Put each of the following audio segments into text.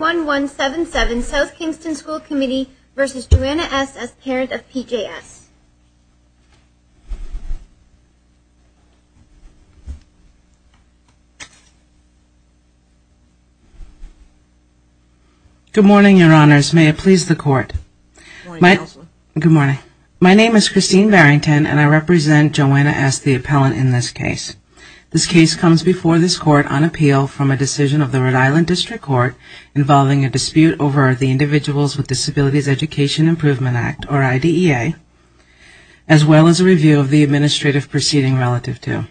as parent of PJS Good morning, Your Honors. May it please the Court. My name is Christine Barrington, and I represent Joanna S., the appellant in this case. This case comes before this Court on appeal from a decision of the Rhode Island District Court involving a dispute over the Individuals with Disabilities Education Improvement Act, or IDEA, as well as a review of the administrative proceeding relative to.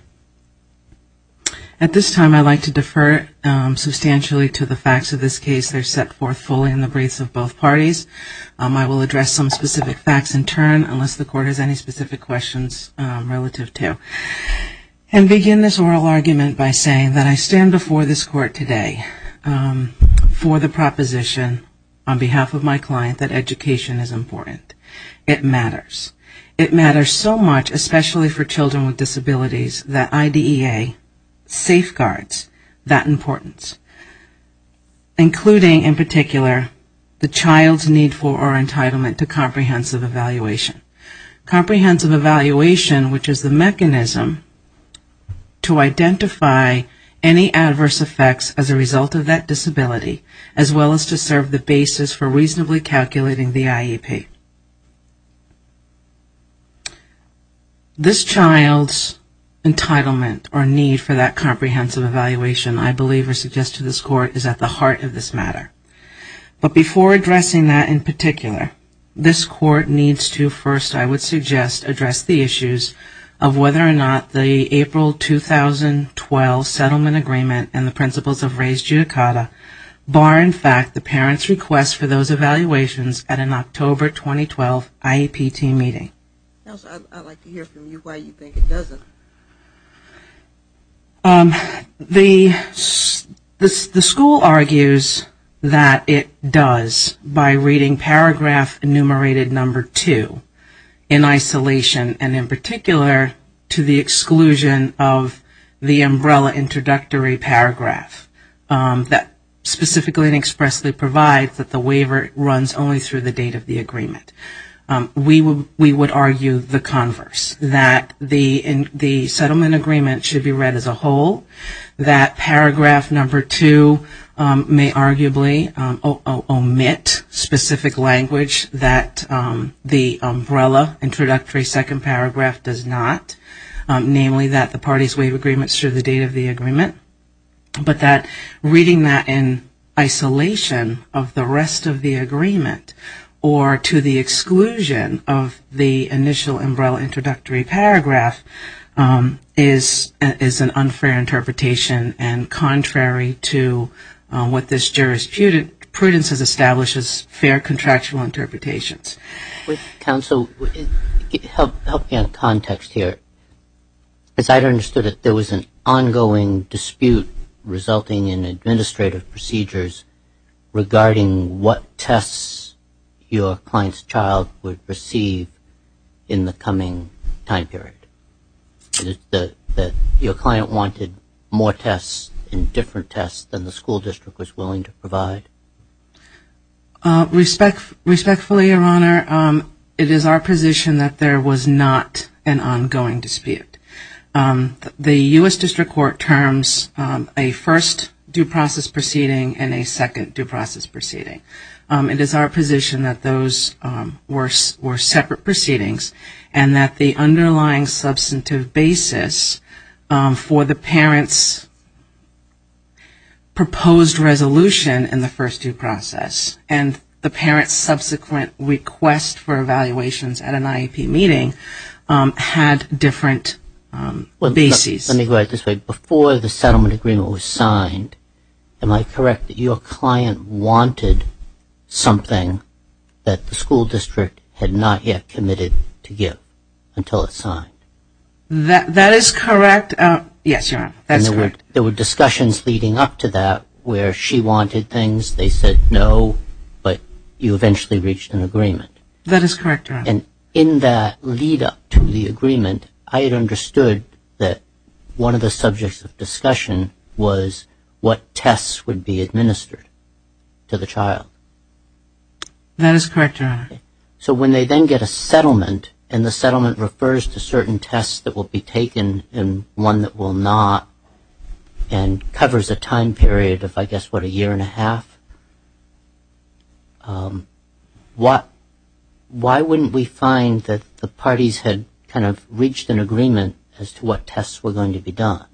At this time, I'd like to defer substantially to the facts of this case. They're set forth fully in the briefs of both parties. I will address some specific facts in turn, unless the Court has any specific questions relative to. And begin this oral argument by saying that I stand before this Court today for the proposition on behalf of my client that education is important. It matters. It matters so much, especially for children with disabilities, that IDEA safeguards that importance, including, in particular, the child's need for or entitlement to comprehensive evaluation. Comprehensive evaluation, which is the mechanism to identify any adverse effects as a result of that disability, as well as to serve the basis for reasonably calculating the IEP. This child's entitlement or need for that comprehensive evaluation, I believe or suggest to this Court, is at the heart of this matter. But before addressing that in particular, this Court needs to first, I would suggest, address the issues of whether or not the April 2012 settlement agreement and the principles of raised judicata bar, in fact, the parent's request for those evaluations at an October 2012 IEP team meeting. I'd like to hear from you why you think it doesn't. The school argues that it does by reading paragraph enumerated number two in isolation, and in particular, to the exclusion of the umbrella introductory paragraph that specifically and expressly provides that the waiver runs only through the date of the agreement. We would argue the converse, that the settlement agreement should be read as a whole, that paragraph number two may arguably omit specific language that the umbrella introductory second paragraph does not, namely that the parties waive agreements through the date of the agreement, but that reading that in isolation of the rest of the agreement or to the exclusion of the umbrella introductory paragraph is an unfair interpretation and contrary to what this jurisprudence has established as fair contractual interpretations. Counsel, help me on context here. As I understood it, there was an ongoing dispute resulting in administrative procedures regarding what tests your client's child would receive in the coming time period. Your client wanted more tests and different tests than the school district was willing to provide? Respectfully, Your Honor, it is our position that there was not an ongoing dispute. The U.S. District Court terms a first due process proceeding and a second due process proceeding. It is our position that those were separate proceedings and that the underlying substantive basis for the parent's proposed resolution in the first due process and the parent's subsequent request for evaluations at an IEP meeting had different bases. Before the settlement agreement was signed, am I correct that your client wanted something that the school district had not yet committed to give until it was signed? That is correct, Your Honor. There were discussions leading up to that where she wanted things, they said no, but you eventually reached an agreement. That is correct, Your Honor. And in that lead up to the agreement, I had understood that one of the subjects of discussion was what tests would be administered to the child. That is correct, Your Honor. So when they then get a settlement and the settlement refers to certain tests that will be taken and one that will not and covers a time period of, I guess, what, a year and a half? Why wouldn't we find that the parties had kind of reached an agreement as to what tests were going to be done?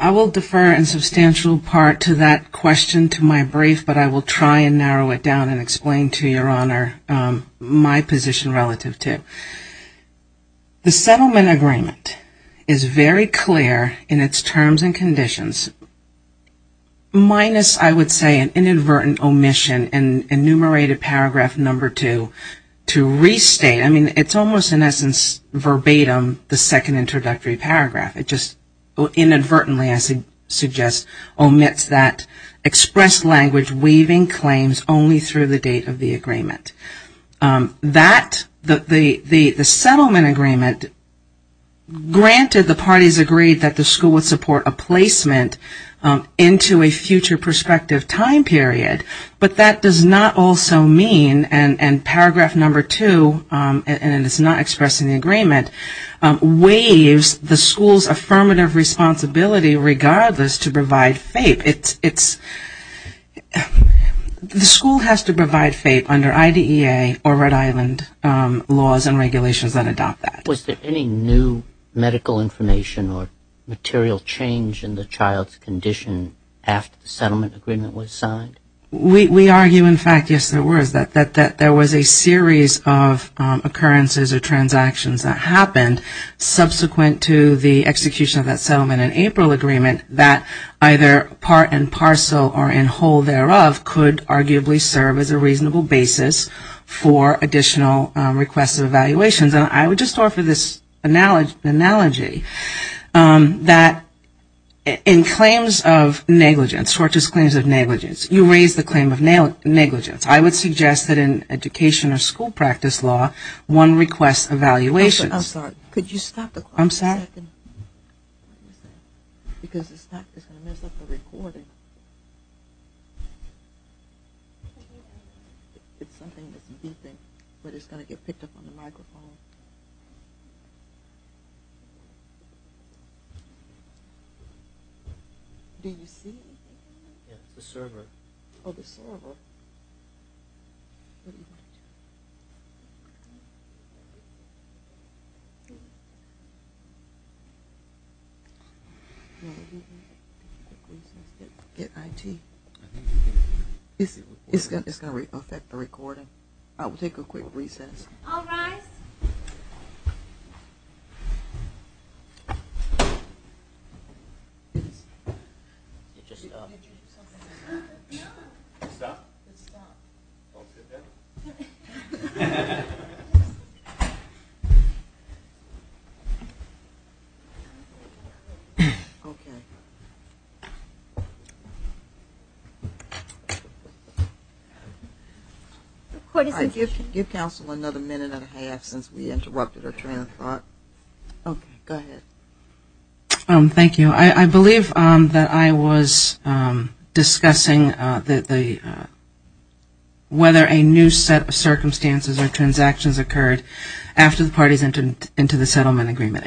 I will defer in substantial part to that question to my brief, but I will try and narrow it down and explain to Your Honor my position relative to it. The settlement agreement is very clear in its terms and conditions, minus, I would say, an inadvertent omission and enumerated power of attorney. And I think it's important in paragraph number two to restate, I mean, it's almost in essence verbatim, the second introductory paragraph. It just inadvertently, I suggest, omits that expressed language weaving claims only through the date of the agreement. That, the settlement agreement, granted the parties agreed that the school would support a placement into a future prospective time period, but that does not also mean and paragraph number two, and it's not expressed in the agreement, waives the school's affirmative responsibility regardless to provide FAPE. It's, the school has to provide FAPE under IDEA or Rhode Island laws and regulations that adopt that. Was there any new medical information or material change in the child's condition after the settlement agreement was signed? We argue, in fact, yes, there was, that there was a series of occurrences or transactions that happened subsequent to the execution of that settlement in April agreement that either part and parcel or in whole thereof could arguably serve as a reasonable basis for additional requests of evaluations. And I would just offer this analogy that in claims of negligence, tortious claims of negligence, you raise the claim of negligence. I would suggest that in education or school practice law, one requests evaluations. I'm sorry, could you stop the clock for a second? Because it's going to mess up the recording. It's something that's beeping, but it's going to get picked up on the microphone. Do you see anything? Yes, the server. Oh, the server. It's going to affect the recording. I will take a quick recess. All rise. Get your stuff. Get your stuff. Don't sit there. Okay. Give counsel another minute and a half since we interrupted our train of thought. Okay, go ahead. Thank you. I believe that I was discussing whether a new set of circumstances or transactions occurred after the parties entered into the settlement agreement.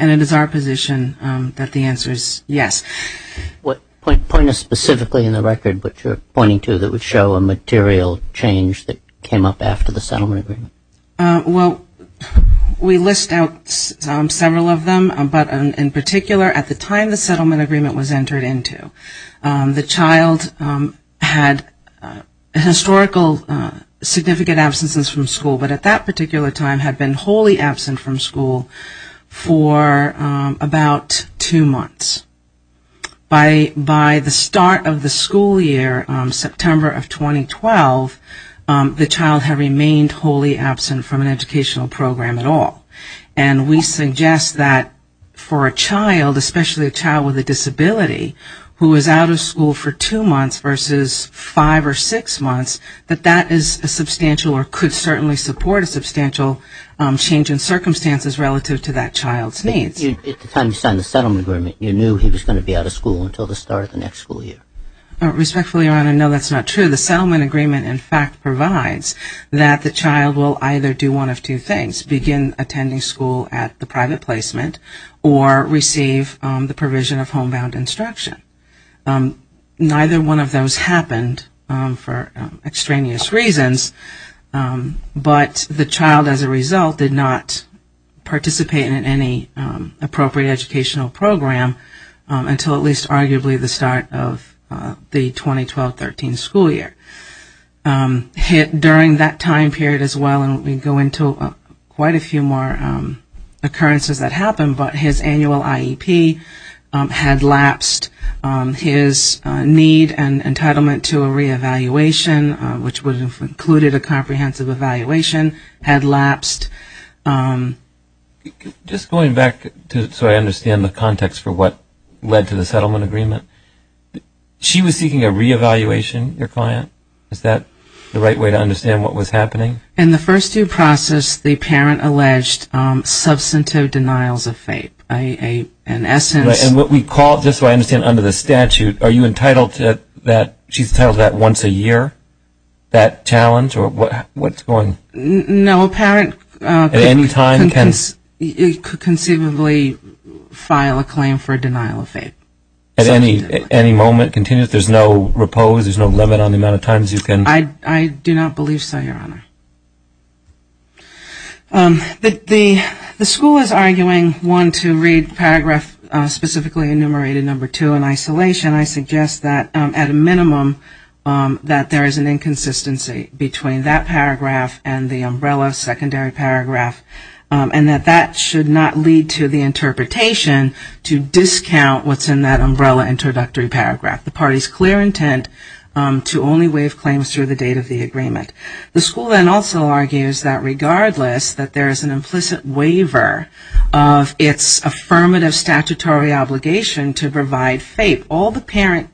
Point us specifically in the record what you're pointing to that would show a material change that came up after the settlement agreement. Well, we list out several of them, but in particular, at the time the settlement agreement was entered into, the child had historical significant absences from school, but at that particular time had been wholly absent from school for about two months. By the start of the school year, September of 2012, the child had remained wholly absent from an educational program at all. And we suggest that for a child, especially a child with a disability, who was out of school for two months versus five or six months, that that is a substantial or could certainly support a substantial change in circumstances relative to that child's needs. At the time you signed the settlement agreement, you knew he was going to be out of school until the start of the next school year. Respectfully, Your Honor, no, that's not true. The settlement agreement, in fact, provides that the child will either do one of two things, begin attending school at the private placement, or receive the provision of homebound instruction. Neither one of those happened for extraneous reasons, but the child, as a result, did not participate in any kind of appropriate educational program until at least arguably the start of the 2012-13 school year. During that time period as well, and we go into quite a few more occurrences that happened, but his annual IEP had lapsed. His need and entitlement to a reevaluation, which would have included a comprehensive evaluation, had lapsed. Just going back so I understand the context for what led to the settlement agreement, she was seeking a reevaluation, your client? Is that the right way to understand what was happening? In the first due process, the parent alleged substantive denials of FAPE. And what we call, just so I understand, under the statute, are you entitled to that? She's entitled to that once a year, that challenge? No, a parent could conceivably file a claim for denial of FAPE. At any moment? Continuously? There's no repose? There's no limit on the amount of times you can? I do not believe so, Your Honor. The school is arguing, one, to read paragraph specifically enumerated, number two, in isolation. I suggest that at a minimum that there is an inconsistency between that paragraph and the umbrella secondary paragraph. And that that should not lead to the interpretation to discount what's in that umbrella introductory paragraph. The party's clear intent to only waive claims through the date of the agreement. The school then also argues that regardless, that there is an implicit waiver of its affirmative statutory obligation to provide FAPE. What the parent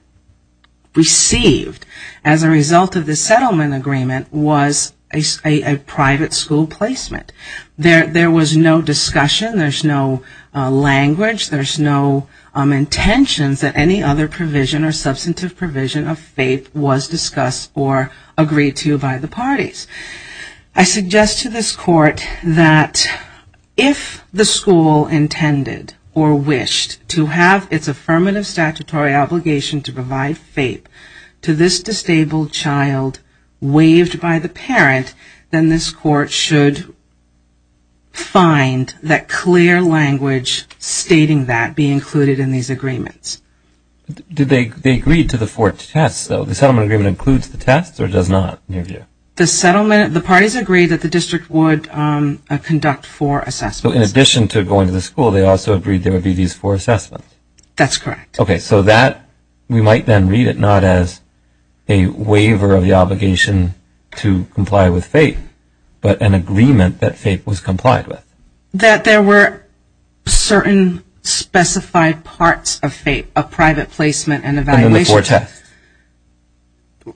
received as a result of the settlement agreement was a private school placement. There was no discussion. There's no language. There's no intentions that any other provision or substantive provision of FAPE was discussed or agreed to by the parties. I suggest to this Court that if the school intended or wished to have its affirmative statutory obligation, to provide FAPE to this disabled child waived by the parent, then this Court should find that clear language stating that be included in these agreements. They agreed to the four tests, though. The settlement agreement includes the tests or does not, in your view? The settlement, the parties agreed that the district would conduct four assessments. So in addition to going to the school, they also agreed there would be these four assessments. That's correct. Okay, so that, we might then read it not as a waiver of the obligation to comply with FAPE, but an agreement that FAPE was complied with. That there were certain specified parts of FAPE, a private placement and evaluation. Four tests.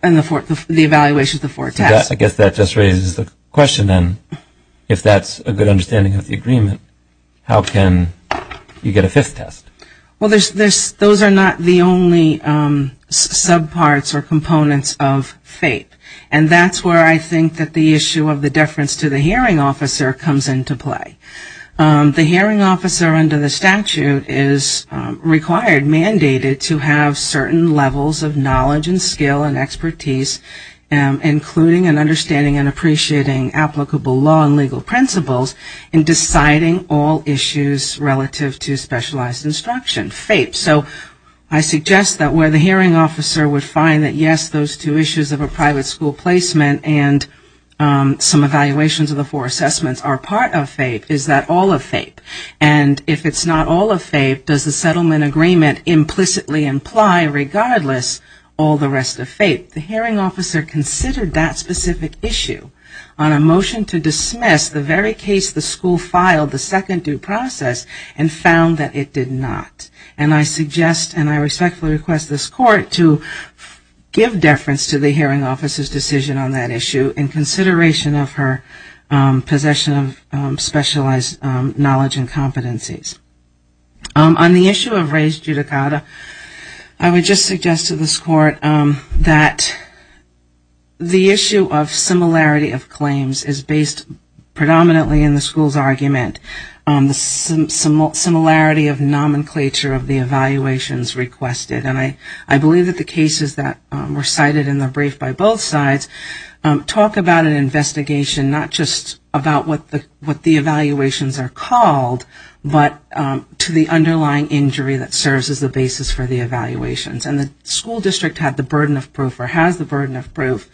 And the evaluation of the four tests. I guess that just raises the question then, if that's a good understanding of the agreement, how can you get a fifth test? Well, those are not the only subparts or components of FAPE. And that's where I think that the issue of the deference to the hearing officer comes into play. The hearing officer under the statute is required, mandated to have certain levels of knowledge and skill and expertise, including an understanding and appreciating applicable law and legal principles in deciding all issues relative to specialized instruction. FAPE. So I suggest that where the hearing officer would find that, yes, those two issues of a private school placement and some evaluations of the four tests, is that all of FAPE? And if it's not all of FAPE, does the settlement agreement implicitly imply, regardless, all the rest of FAPE? The hearing officer considered that specific issue on a motion to dismiss the very case the school filed the second due process and found that it did not. And I suggest and I respectfully request this court to give deference to the hearing officer's decision on that issue in consideration of her possession of specialized knowledge and competencies. On the issue of race judicata, I would just suggest to this court that the issue of similarity of claims is based predominantly in the school's argument. The similarity of nomenclature of the evaluations requested. And I believe that the cases that were cited in the brief by both sides talk about an investigation not just about what the evaluations are called, but to the underlying injury that serves as the basis for the evaluations. And the school district had the burden of proof or has the burden of proof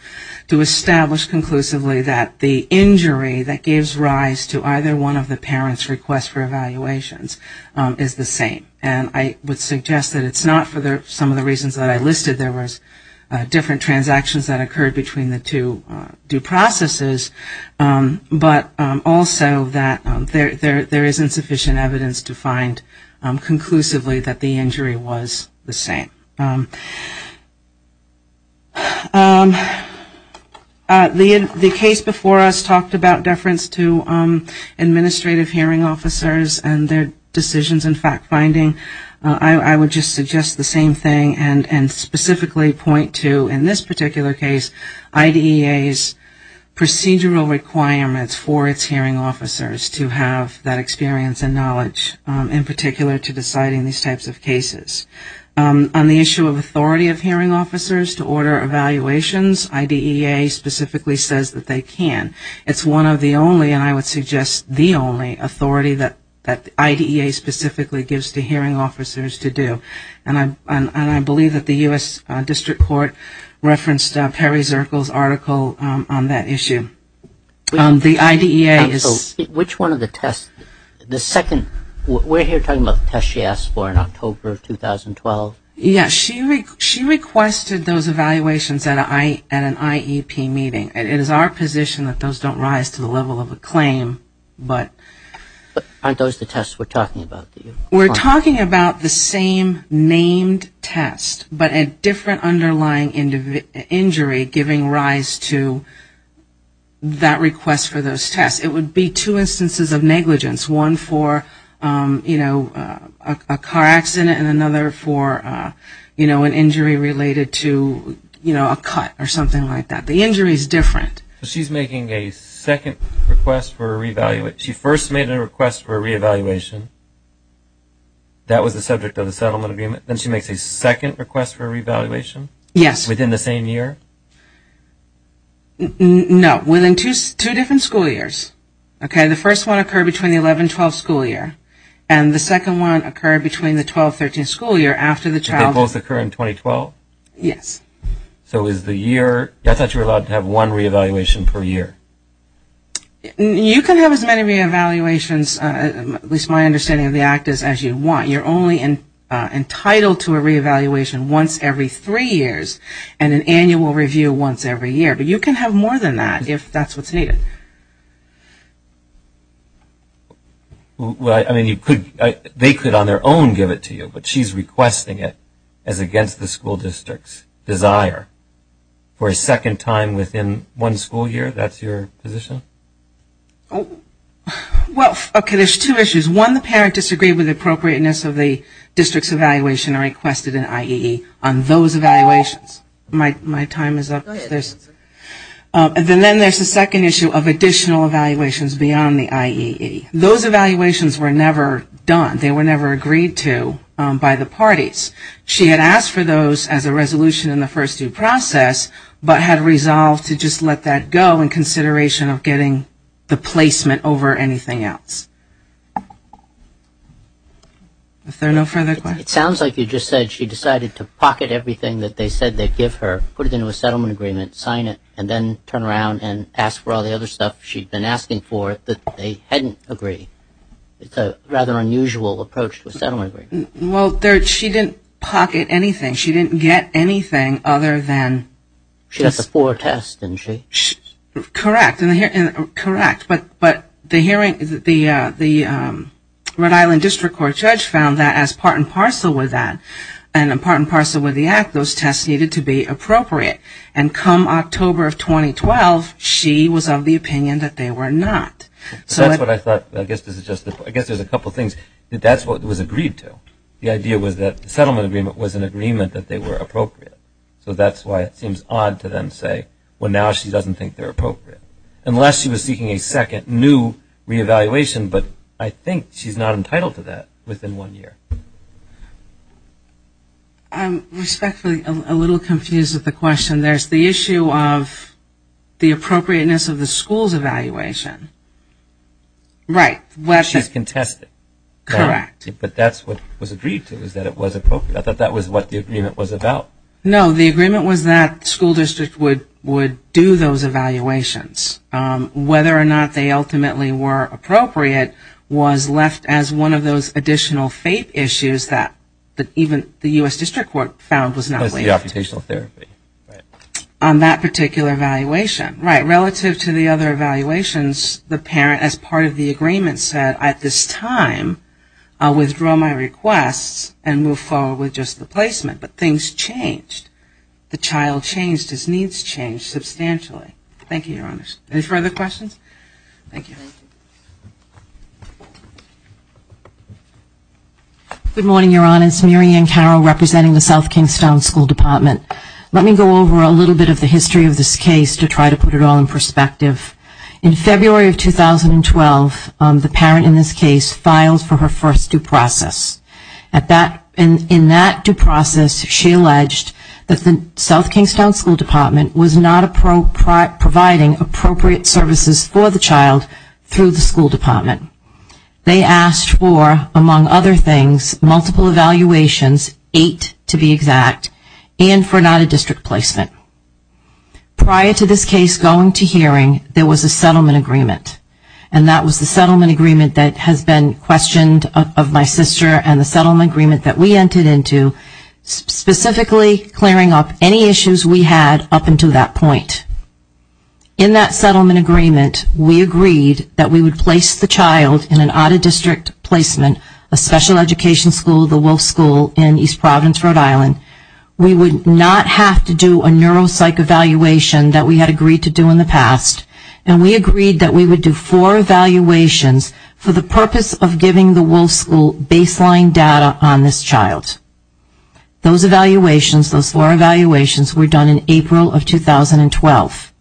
to establish conclusively that the injury that gives rise to either one of the parents' requests for evaluations is the same. And I would suggest that it's not for some of the reasons that I listed. There was different transactions that occurred between the two due processes, but also that there isn't sufficient evidence to find conclusively that the injury was the same. The case before us talked about deference to administrative hearing officers and their decisions and fact-finding. I would just suggest the same thing and specifically point to, in this particular case, IDEA's procedural requirements for its hearing officers to have that experience and knowledge in particular to deciding these types of cases. On the issue of authority of hearing officers to order evaluations, IDEA specifically says that they can. It's one of the only, and I would suggest the only, authority that IDEA specifically gives to hearing officers to order hearing officers to do. And I believe that the U.S. District Court referenced Perry Zirkle's article on that issue. The IDEA is... We're here talking about the test she asked for in October of 2012. Yes, she requested those evaluations at an IEP meeting. It is our position that those don't rise to the level of a claim, but... Aren't those the tests we're talking about? We're talking about the same named test, but a different underlying injury giving rise to that request for those tests. It would be two instances of negligence, one for, you know, a car accident and another for, you know, an injury related to, you know, a cut or something like that. The injury is different. She's making a second request for a reevaluation. She first made a request for a reevaluation. That was the subject of the settlement agreement. Then she makes a second request for a reevaluation? Yes. Within the same year? No. Within two different school years. Okay. The first one occurred between the 11-12 school year and the second one occurred between the 12-13 school year after the child... Did they both occur in 2012? Yes. So is the year... You can have as many reevaluations, at least my understanding of the act is, as you want. You're only entitled to a reevaluation once every three years and an annual review once every year. But you can have more than that if that's what's needed. Well, I mean, they could on their own give it to you, but she's requesting it as against the school district's desire. For a second time within one school year, that's your position? Well, okay, there's two issues. One, the parent disagreed with the appropriateness of the district's evaluation and requested an IEE on those evaluations. Then there's the second issue of additional evaluations beyond the IEE. Those evaluations were never done. They were never agreed to by the parties. She had asked for those as a resolution in the first due process, but had resolved to just let that go in consideration of getting the placement over anything else. If there are no further questions... It sounds like you just said she decided to pocket everything that they said they'd give her, put it into a settlement agreement, sign it, and then turn around and ask for all the other stuff she'd been asking for that they hadn't agreed. It's a rather unusual approach to a settlement agreement. Well, she didn't pocket anything. She didn't get anything other than... She got the four tests, didn't she? Correct. But the Rhode Island District Court judge found that as part and parcel with that, and part and parcel with the act, those tests needed to be appropriate. And come October of 2012, she was of the opinion that they were not. I guess there's a couple things. That's what was agreed to. The idea was that the settlement agreement was an agreement that they were appropriate. So that's why it seems odd to them to say, well, now she doesn't think they're appropriate. Unless she was seeking a second new reevaluation, but I think she's not entitled to that within one year. I'm respectfully a little confused with the question. There's the issue of the appropriateness of the school's evaluation. She's contested. But that's what was agreed to, is that it was appropriate. I thought that was what the agreement was about. No, the agreement was that the school district would do those evaluations. Whether or not they ultimately were appropriate was left as one of those additional fate issues that even the U.S. the parent as part of the agreement said, at this time I'll withdraw my requests and move forward with just the placement. But things changed. The child changed, his needs changed substantially. Thank you, Your Honor. Any further questions? Thank you. Good morning, Your Honor. It's Mary Ann Carroll representing the South Kingstown School Department. Let me go over a little bit of the history of this case to try to put it all in perspective. In February of 2012, the parent in this case filed for her first due process. In that due process, she alleged that the South Kingstown School Department was not providing appropriate services for the child through the school department. They asked for, among other things, multiple evaluations, eight to be exact, and for not a district placement. Prior to this case going to hearing, there was a settlement agreement. And that was the settlement agreement that has been questioned of my sister and the settlement agreement that we entered into, specifically clearing up any issues we had up until that point. In that settlement agreement, we agreed that we would place the child in an audit district placement, a special education school, the Wolf School in East Providence, Rhode Island. We would not have to do a neuropsych evaluation that we had agreed to do in the past. And we agreed that we would do four evaluations for the purpose of giving the Wolf School baseline data on this child. Those evaluations, those four evaluations, were done in April of 2012.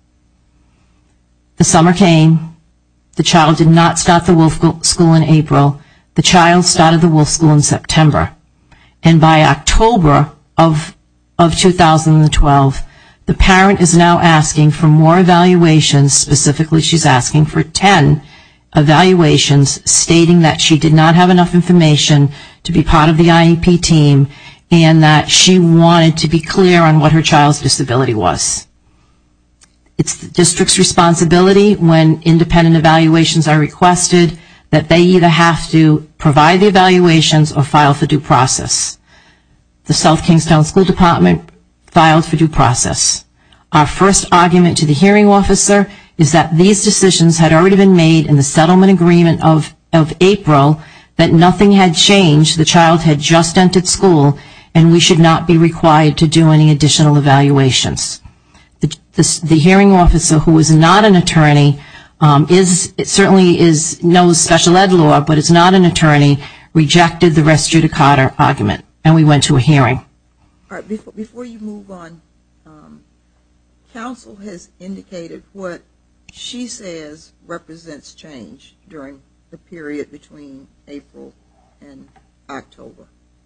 The summer came. The child did not start the Wolf School in April. The child started the Wolf School in September. And by October of 2012, the parent is now asking for more evaluations. Specifically, she's asking for 10 evaluations stating that she did not have enough information to be part of the IEP team and that she wanted to be clear on what her child's disability was. It's the district's responsibility when independent evaluations are requested that they either have to provide the evaluations or file for due process. The South Kingstown School Department filed for due process. Our first argument to the hearing officer is that these decisions had already been made in the settlement agreement of April that nothing had changed, the child had just entered school, and we should not be required to do any additional evaluations. The hearing officer, who is not an attorney, certainly knows special ed law, but is not an attorney, rejected the res judicata argument and we went to a hearing. Before you move on, counsel has indicated what she says represents change during the period between April and October,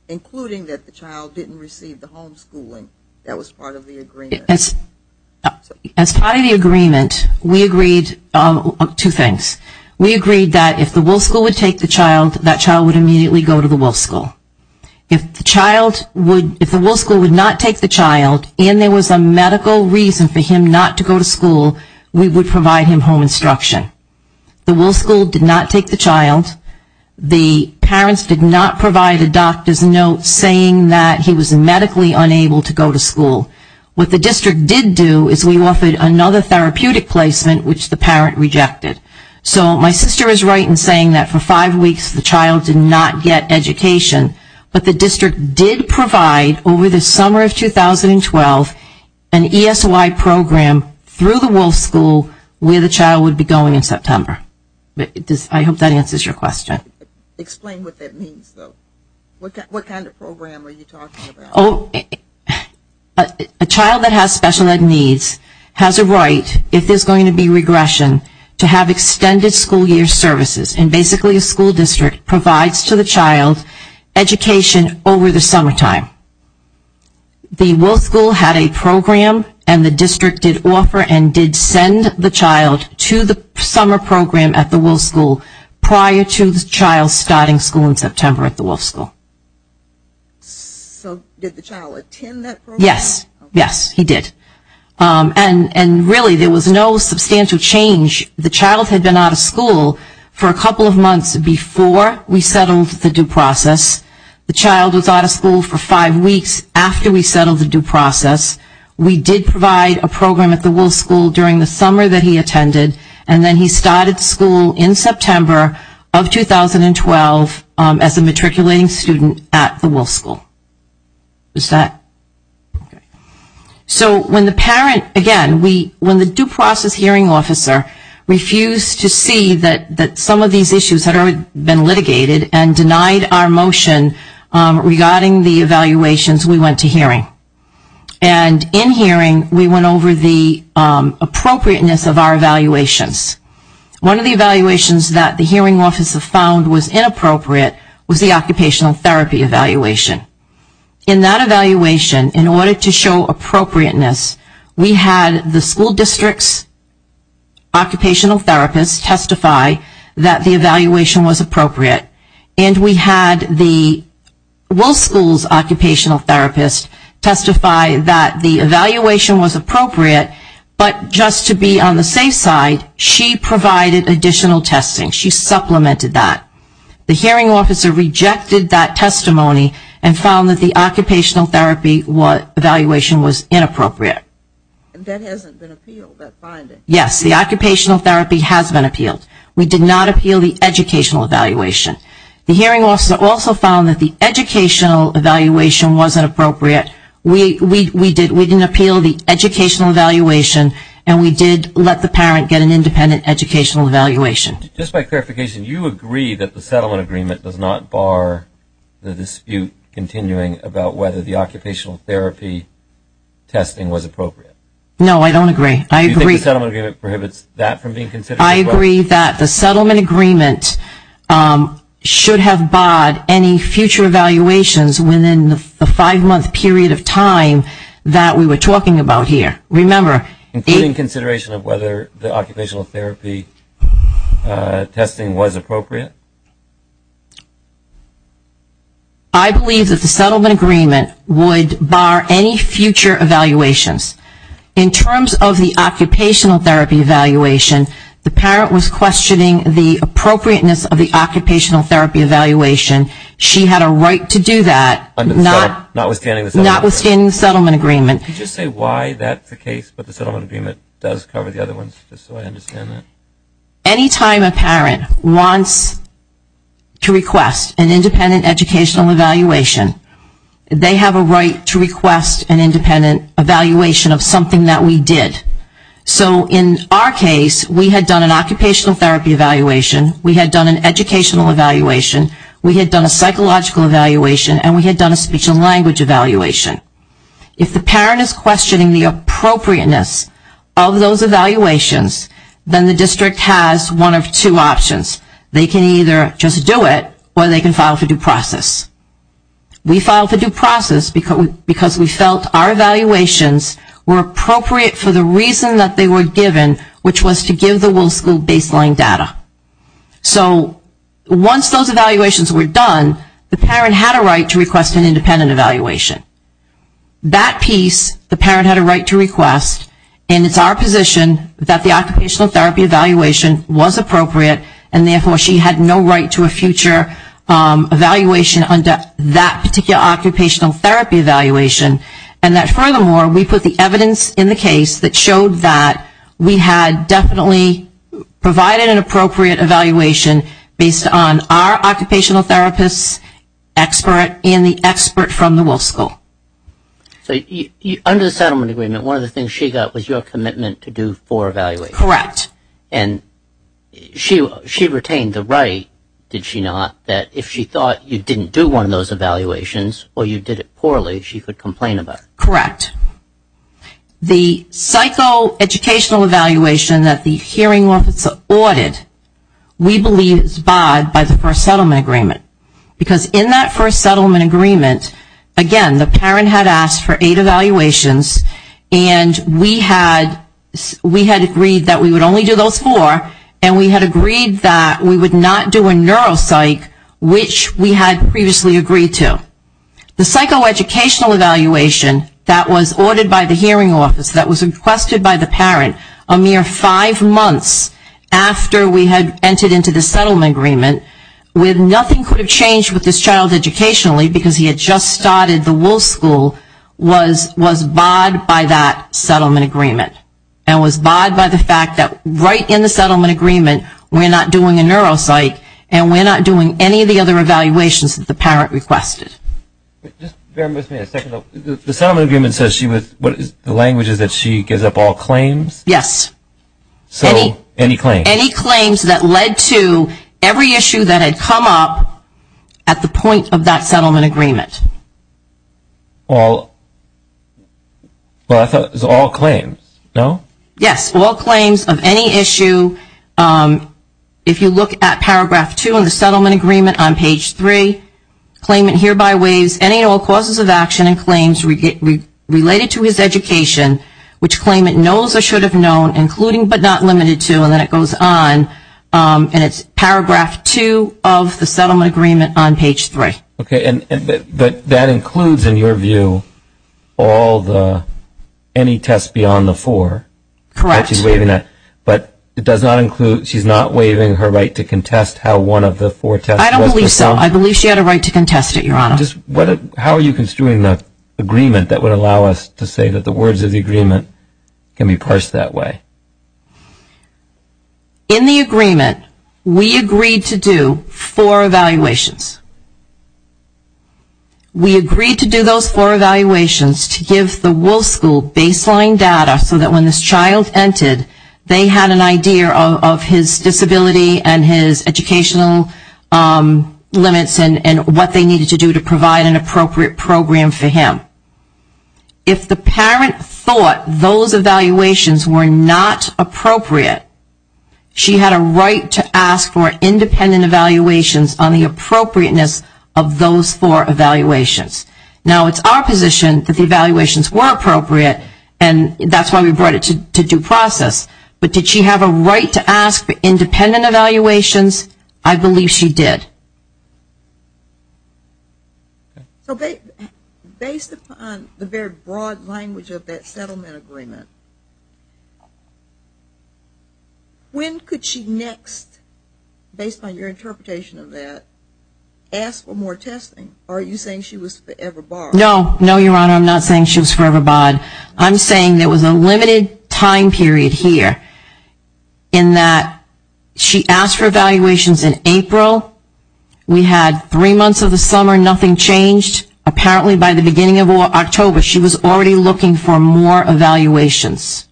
including that the child didn't receive the homeschooling that was part of the agreement. As part of the agreement, we agreed two things. We agreed that if the Wolf School would take the child, that child would immediately go to the Wolf School. If the Wolf School would not take the child and there was a medical reason for him not to go to school, we would provide him home instruction. The Wolf School did not take the child. The parents did not provide a doctor's note saying that he was medically unable to go to school. What the district did do is we offered another therapeutic placement, which the parent rejected. So my sister is right in saying that for five weeks the child did not get education, but the district did provide over the summer of 2012 an ESY program through the Wolf School where the child would be going in September. I hope that answers your question. Explain what that means, though. What kind of program are you talking about? A child that has special ed needs has a right, if there is going to be regression, to have extended school year services. And basically a school district provides to the child education over the summertime. The Wolf School had a program and the district did offer and did send the child to the summer program at the Wolf School prior to the child starting school in September at the Wolf School. So did the child attend that program? Yes. Yes, he did. And really there was no substantial change. The child had been out of school for a couple of months before we settled the due process. The child was out of school for five weeks after we settled the due process. We did provide a program at the Wolf School during the summer that he attended and then he started school in September of 2012 as a matriculating student at the Wolf School. So when the parent, again, when the due process hearing officer refused to see that some of these issues had already been litigated and denied our motion regarding the evaluations, we went to hearing. And in hearing we went over the appropriateness of our evaluations. One of the evaluations that the hearing officer found was inappropriate was the occupational therapy evaluation. In that evaluation, in order to show appropriateness, we had the school district's occupational therapists testify that the evaluation was appropriate and we had the Wolf School's occupational therapist testify that the evaluation was appropriate, but just to be on the safe side, she provided additional testing. She supplemented that. The hearing officer rejected that testimony and found that the occupational therapy evaluation was inappropriate. Yes, the occupational therapy has been appealed. We did not appeal the educational evaluation. The hearing officer also found that the educational evaluation wasn't appropriate. We didn't appeal the educational evaluation and we did let the parent get an independent educational evaluation. Just by clarification, you agree that the settlement agreement does not bar the dispute continuing about whether the occupational therapy testing was appropriate? No, I don't agree. I agree. I agree that the settlement agreement should have barred any future evaluations within the five-month period of time that we were talking about here. Including consideration of whether the occupational therapy testing was appropriate? I believe that the settlement agreement would bar any future evaluations. In terms of the occupational therapy evaluation, the parent was questioning the appropriateness of the occupational therapy evaluation. She had a right to do that, notwithstanding the settlement agreement. Any time a parent wants to request an independent educational evaluation, they have a right to request an independent evaluation of something that we did. So in our case, we had done an occupational therapy evaluation, we had done an speech and language evaluation. If the parent is questioning the appropriateness of those evaluations, then the district has one of two options. They can either just do it or they can file for due process. We filed for due process because we felt our evaluations were appropriate for the reason that they were given, which was to give the Wolf School baseline data. So once those evaluations were done, the parent had a right to request an independent evaluation. That piece, the parent had a right to request, and it's our position that the occupational therapy evaluation was appropriate, and therefore she had no right to a future evaluation under that particular occupational therapy evaluation. And that furthermore, we put the evidence in appropriate evaluation based on our occupational therapist expert and the expert from the Wolf School. So under the settlement agreement, one of the things she got was your commitment to do four evaluations. Correct. And she retained the right, did she not, that if she thought you didn't do one of those evaluations or you did it poorly, she could complain about it. Correct. The psychoeducational evaluation that the hearing office audited, we believe is barred by the first settlement agreement. Because in that first settlement agreement, again, the parent had asked for you to do those four, and we had agreed that we would not do a neuropsych, which we had previously agreed to. The psychoeducational evaluation that was ordered by the hearing office, that was requested by the parent, a mere five months after we had entered into the settlement agreement, with nothing could have changed with this child right in the settlement agreement, we're not doing a neuropsych, and we're not doing any of the other evaluations that the parent requested. The settlement agreement says she was, the language is that she gives up all claims? Yes. Any claims. Any claims that led to every issue that had come up at the point of that settlement agreement. All claims, no? Yes, all claims of any issue, if you look at paragraph two in the settlement agreement on page three, claimant hereby waives any and all causes of action and claims related to his education, which claimant knows or should have known, including but not limited to, and then it goes on, and it's paragraph two of the settlement agreement on page three. Okay, and that includes, in your view, all the, any tests beyond the four? Correct. But it does not include, she's not waiving her right to contest how one of the four tests was performed? I don't believe so. I believe she had a right to contest it, Your Honor. How are you construing an agreement that would allow us to say that the words of the agreement can be parsed that way? In the agreement, we agreed to do four evaluations. We agreed to do those four evaluations to give the Wolf School baseline data so that when this child entered, they had an idea of his disability and his educational limits and what they needed to do to provide an appropriate program for him. If the parent thought those evaluations were not appropriate, she had a right to ask for independent evaluations on the appropriateness of those four evaluations. Now, it's our position that the evaluations were appropriate, and that's why we brought it to due process, but did she have a right to ask for independent evaluations? I believe she did. Okay. Based upon the very broad language of that settlement agreement, when could she next, based on your interpretation of that, ask for more testing? Are you saying she was forever barred? No, Your Honor, I'm not saying she was forever barred. I'm saying there was a time when we had three months of the summer, nothing changed. Apparently by the beginning of October, she was already looking for more evaluations.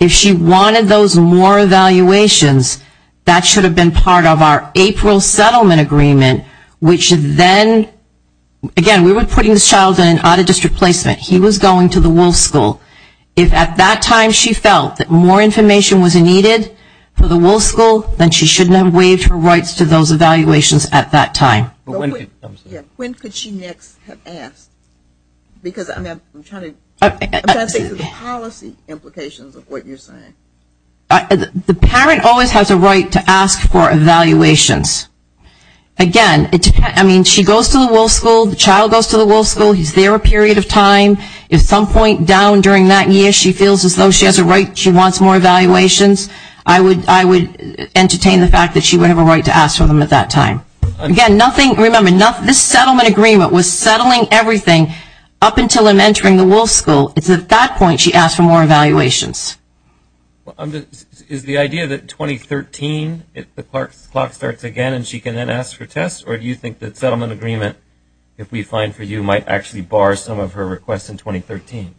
If she wanted those more evaluations, that should have been part of our April settlement agreement, which then, again, we were putting this child in an out-of-district placement. He was going to the Wolf School. If at that time she felt that more information was needed for the Wolf School, then she shouldn't have waived her rights to those evaluations at that time. When could she next have asked? Because I'm trying to think of the policy implications of what you're saying. The parent always has a right to ask for evaluations. Again, I mean, she goes to school, she has a right, she wants more evaluations. I would entertain the fact that she would have a right to ask for them at that time. Again, remember, this settlement agreement was settling everything up until him entering the Wolf School. It's at that point she asked for more evaluations. Is the idea that 2013, the clock starts again and she can then ask for tests, or do you think that settlement agreement, if we find for you, might actually bar some of her requests in 2013?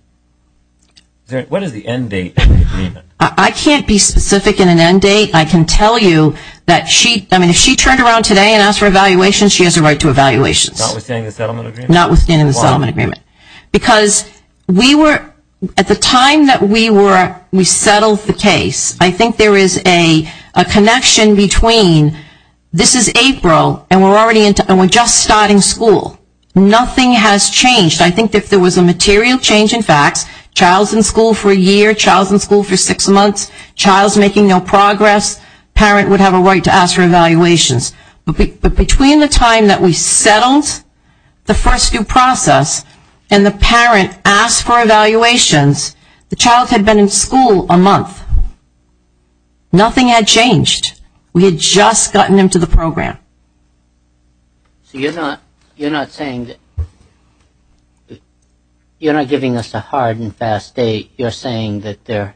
What is the end date of the agreement? I can't be specific in an end date. I can tell you that if she turned around today and asked for evaluations, she has a right to evaluations. Not withstanding the settlement agreement? Not withstanding the settlement agreement. Because we were, at the time that we were, we settled the case, I think there is a connection between this is April and we're just starting school. Nothing has changed. I think if there was a material change in facts, child's in school for a year, child's in school for six months, child's making no progress, parent would have a right to ask for evaluations. But between the time that we settled the first due process and the parent asked for evaluations, the child had been in school a month. Nothing had changed. We had just gotten them to the program. So you're not saying that, you're not giving us a hard and fast date. You're saying that there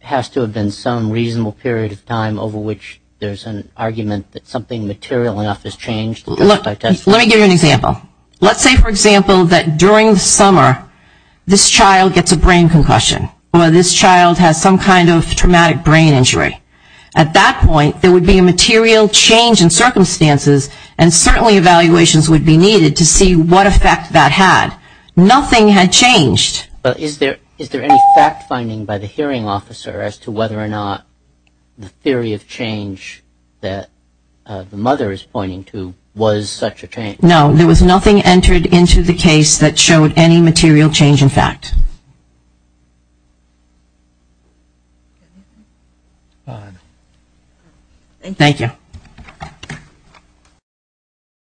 has to have been some reasonable period of time over which there's an argument that something material enough has changed. Let me give you an example. Let's say, for example, that during the summer, this child gets a brain concussion. Or this child has some kind of traumatic brain injury. At that point, there would be a material change in circumstances and certainly evaluations would be needed to see what effect that had. Nothing had changed. But is there any fact finding by the hearing officer as to whether or not the theory of change that the mother is pointing to was such a change? No, there was nothing entered into the case that showed any material change in fact. Thank you.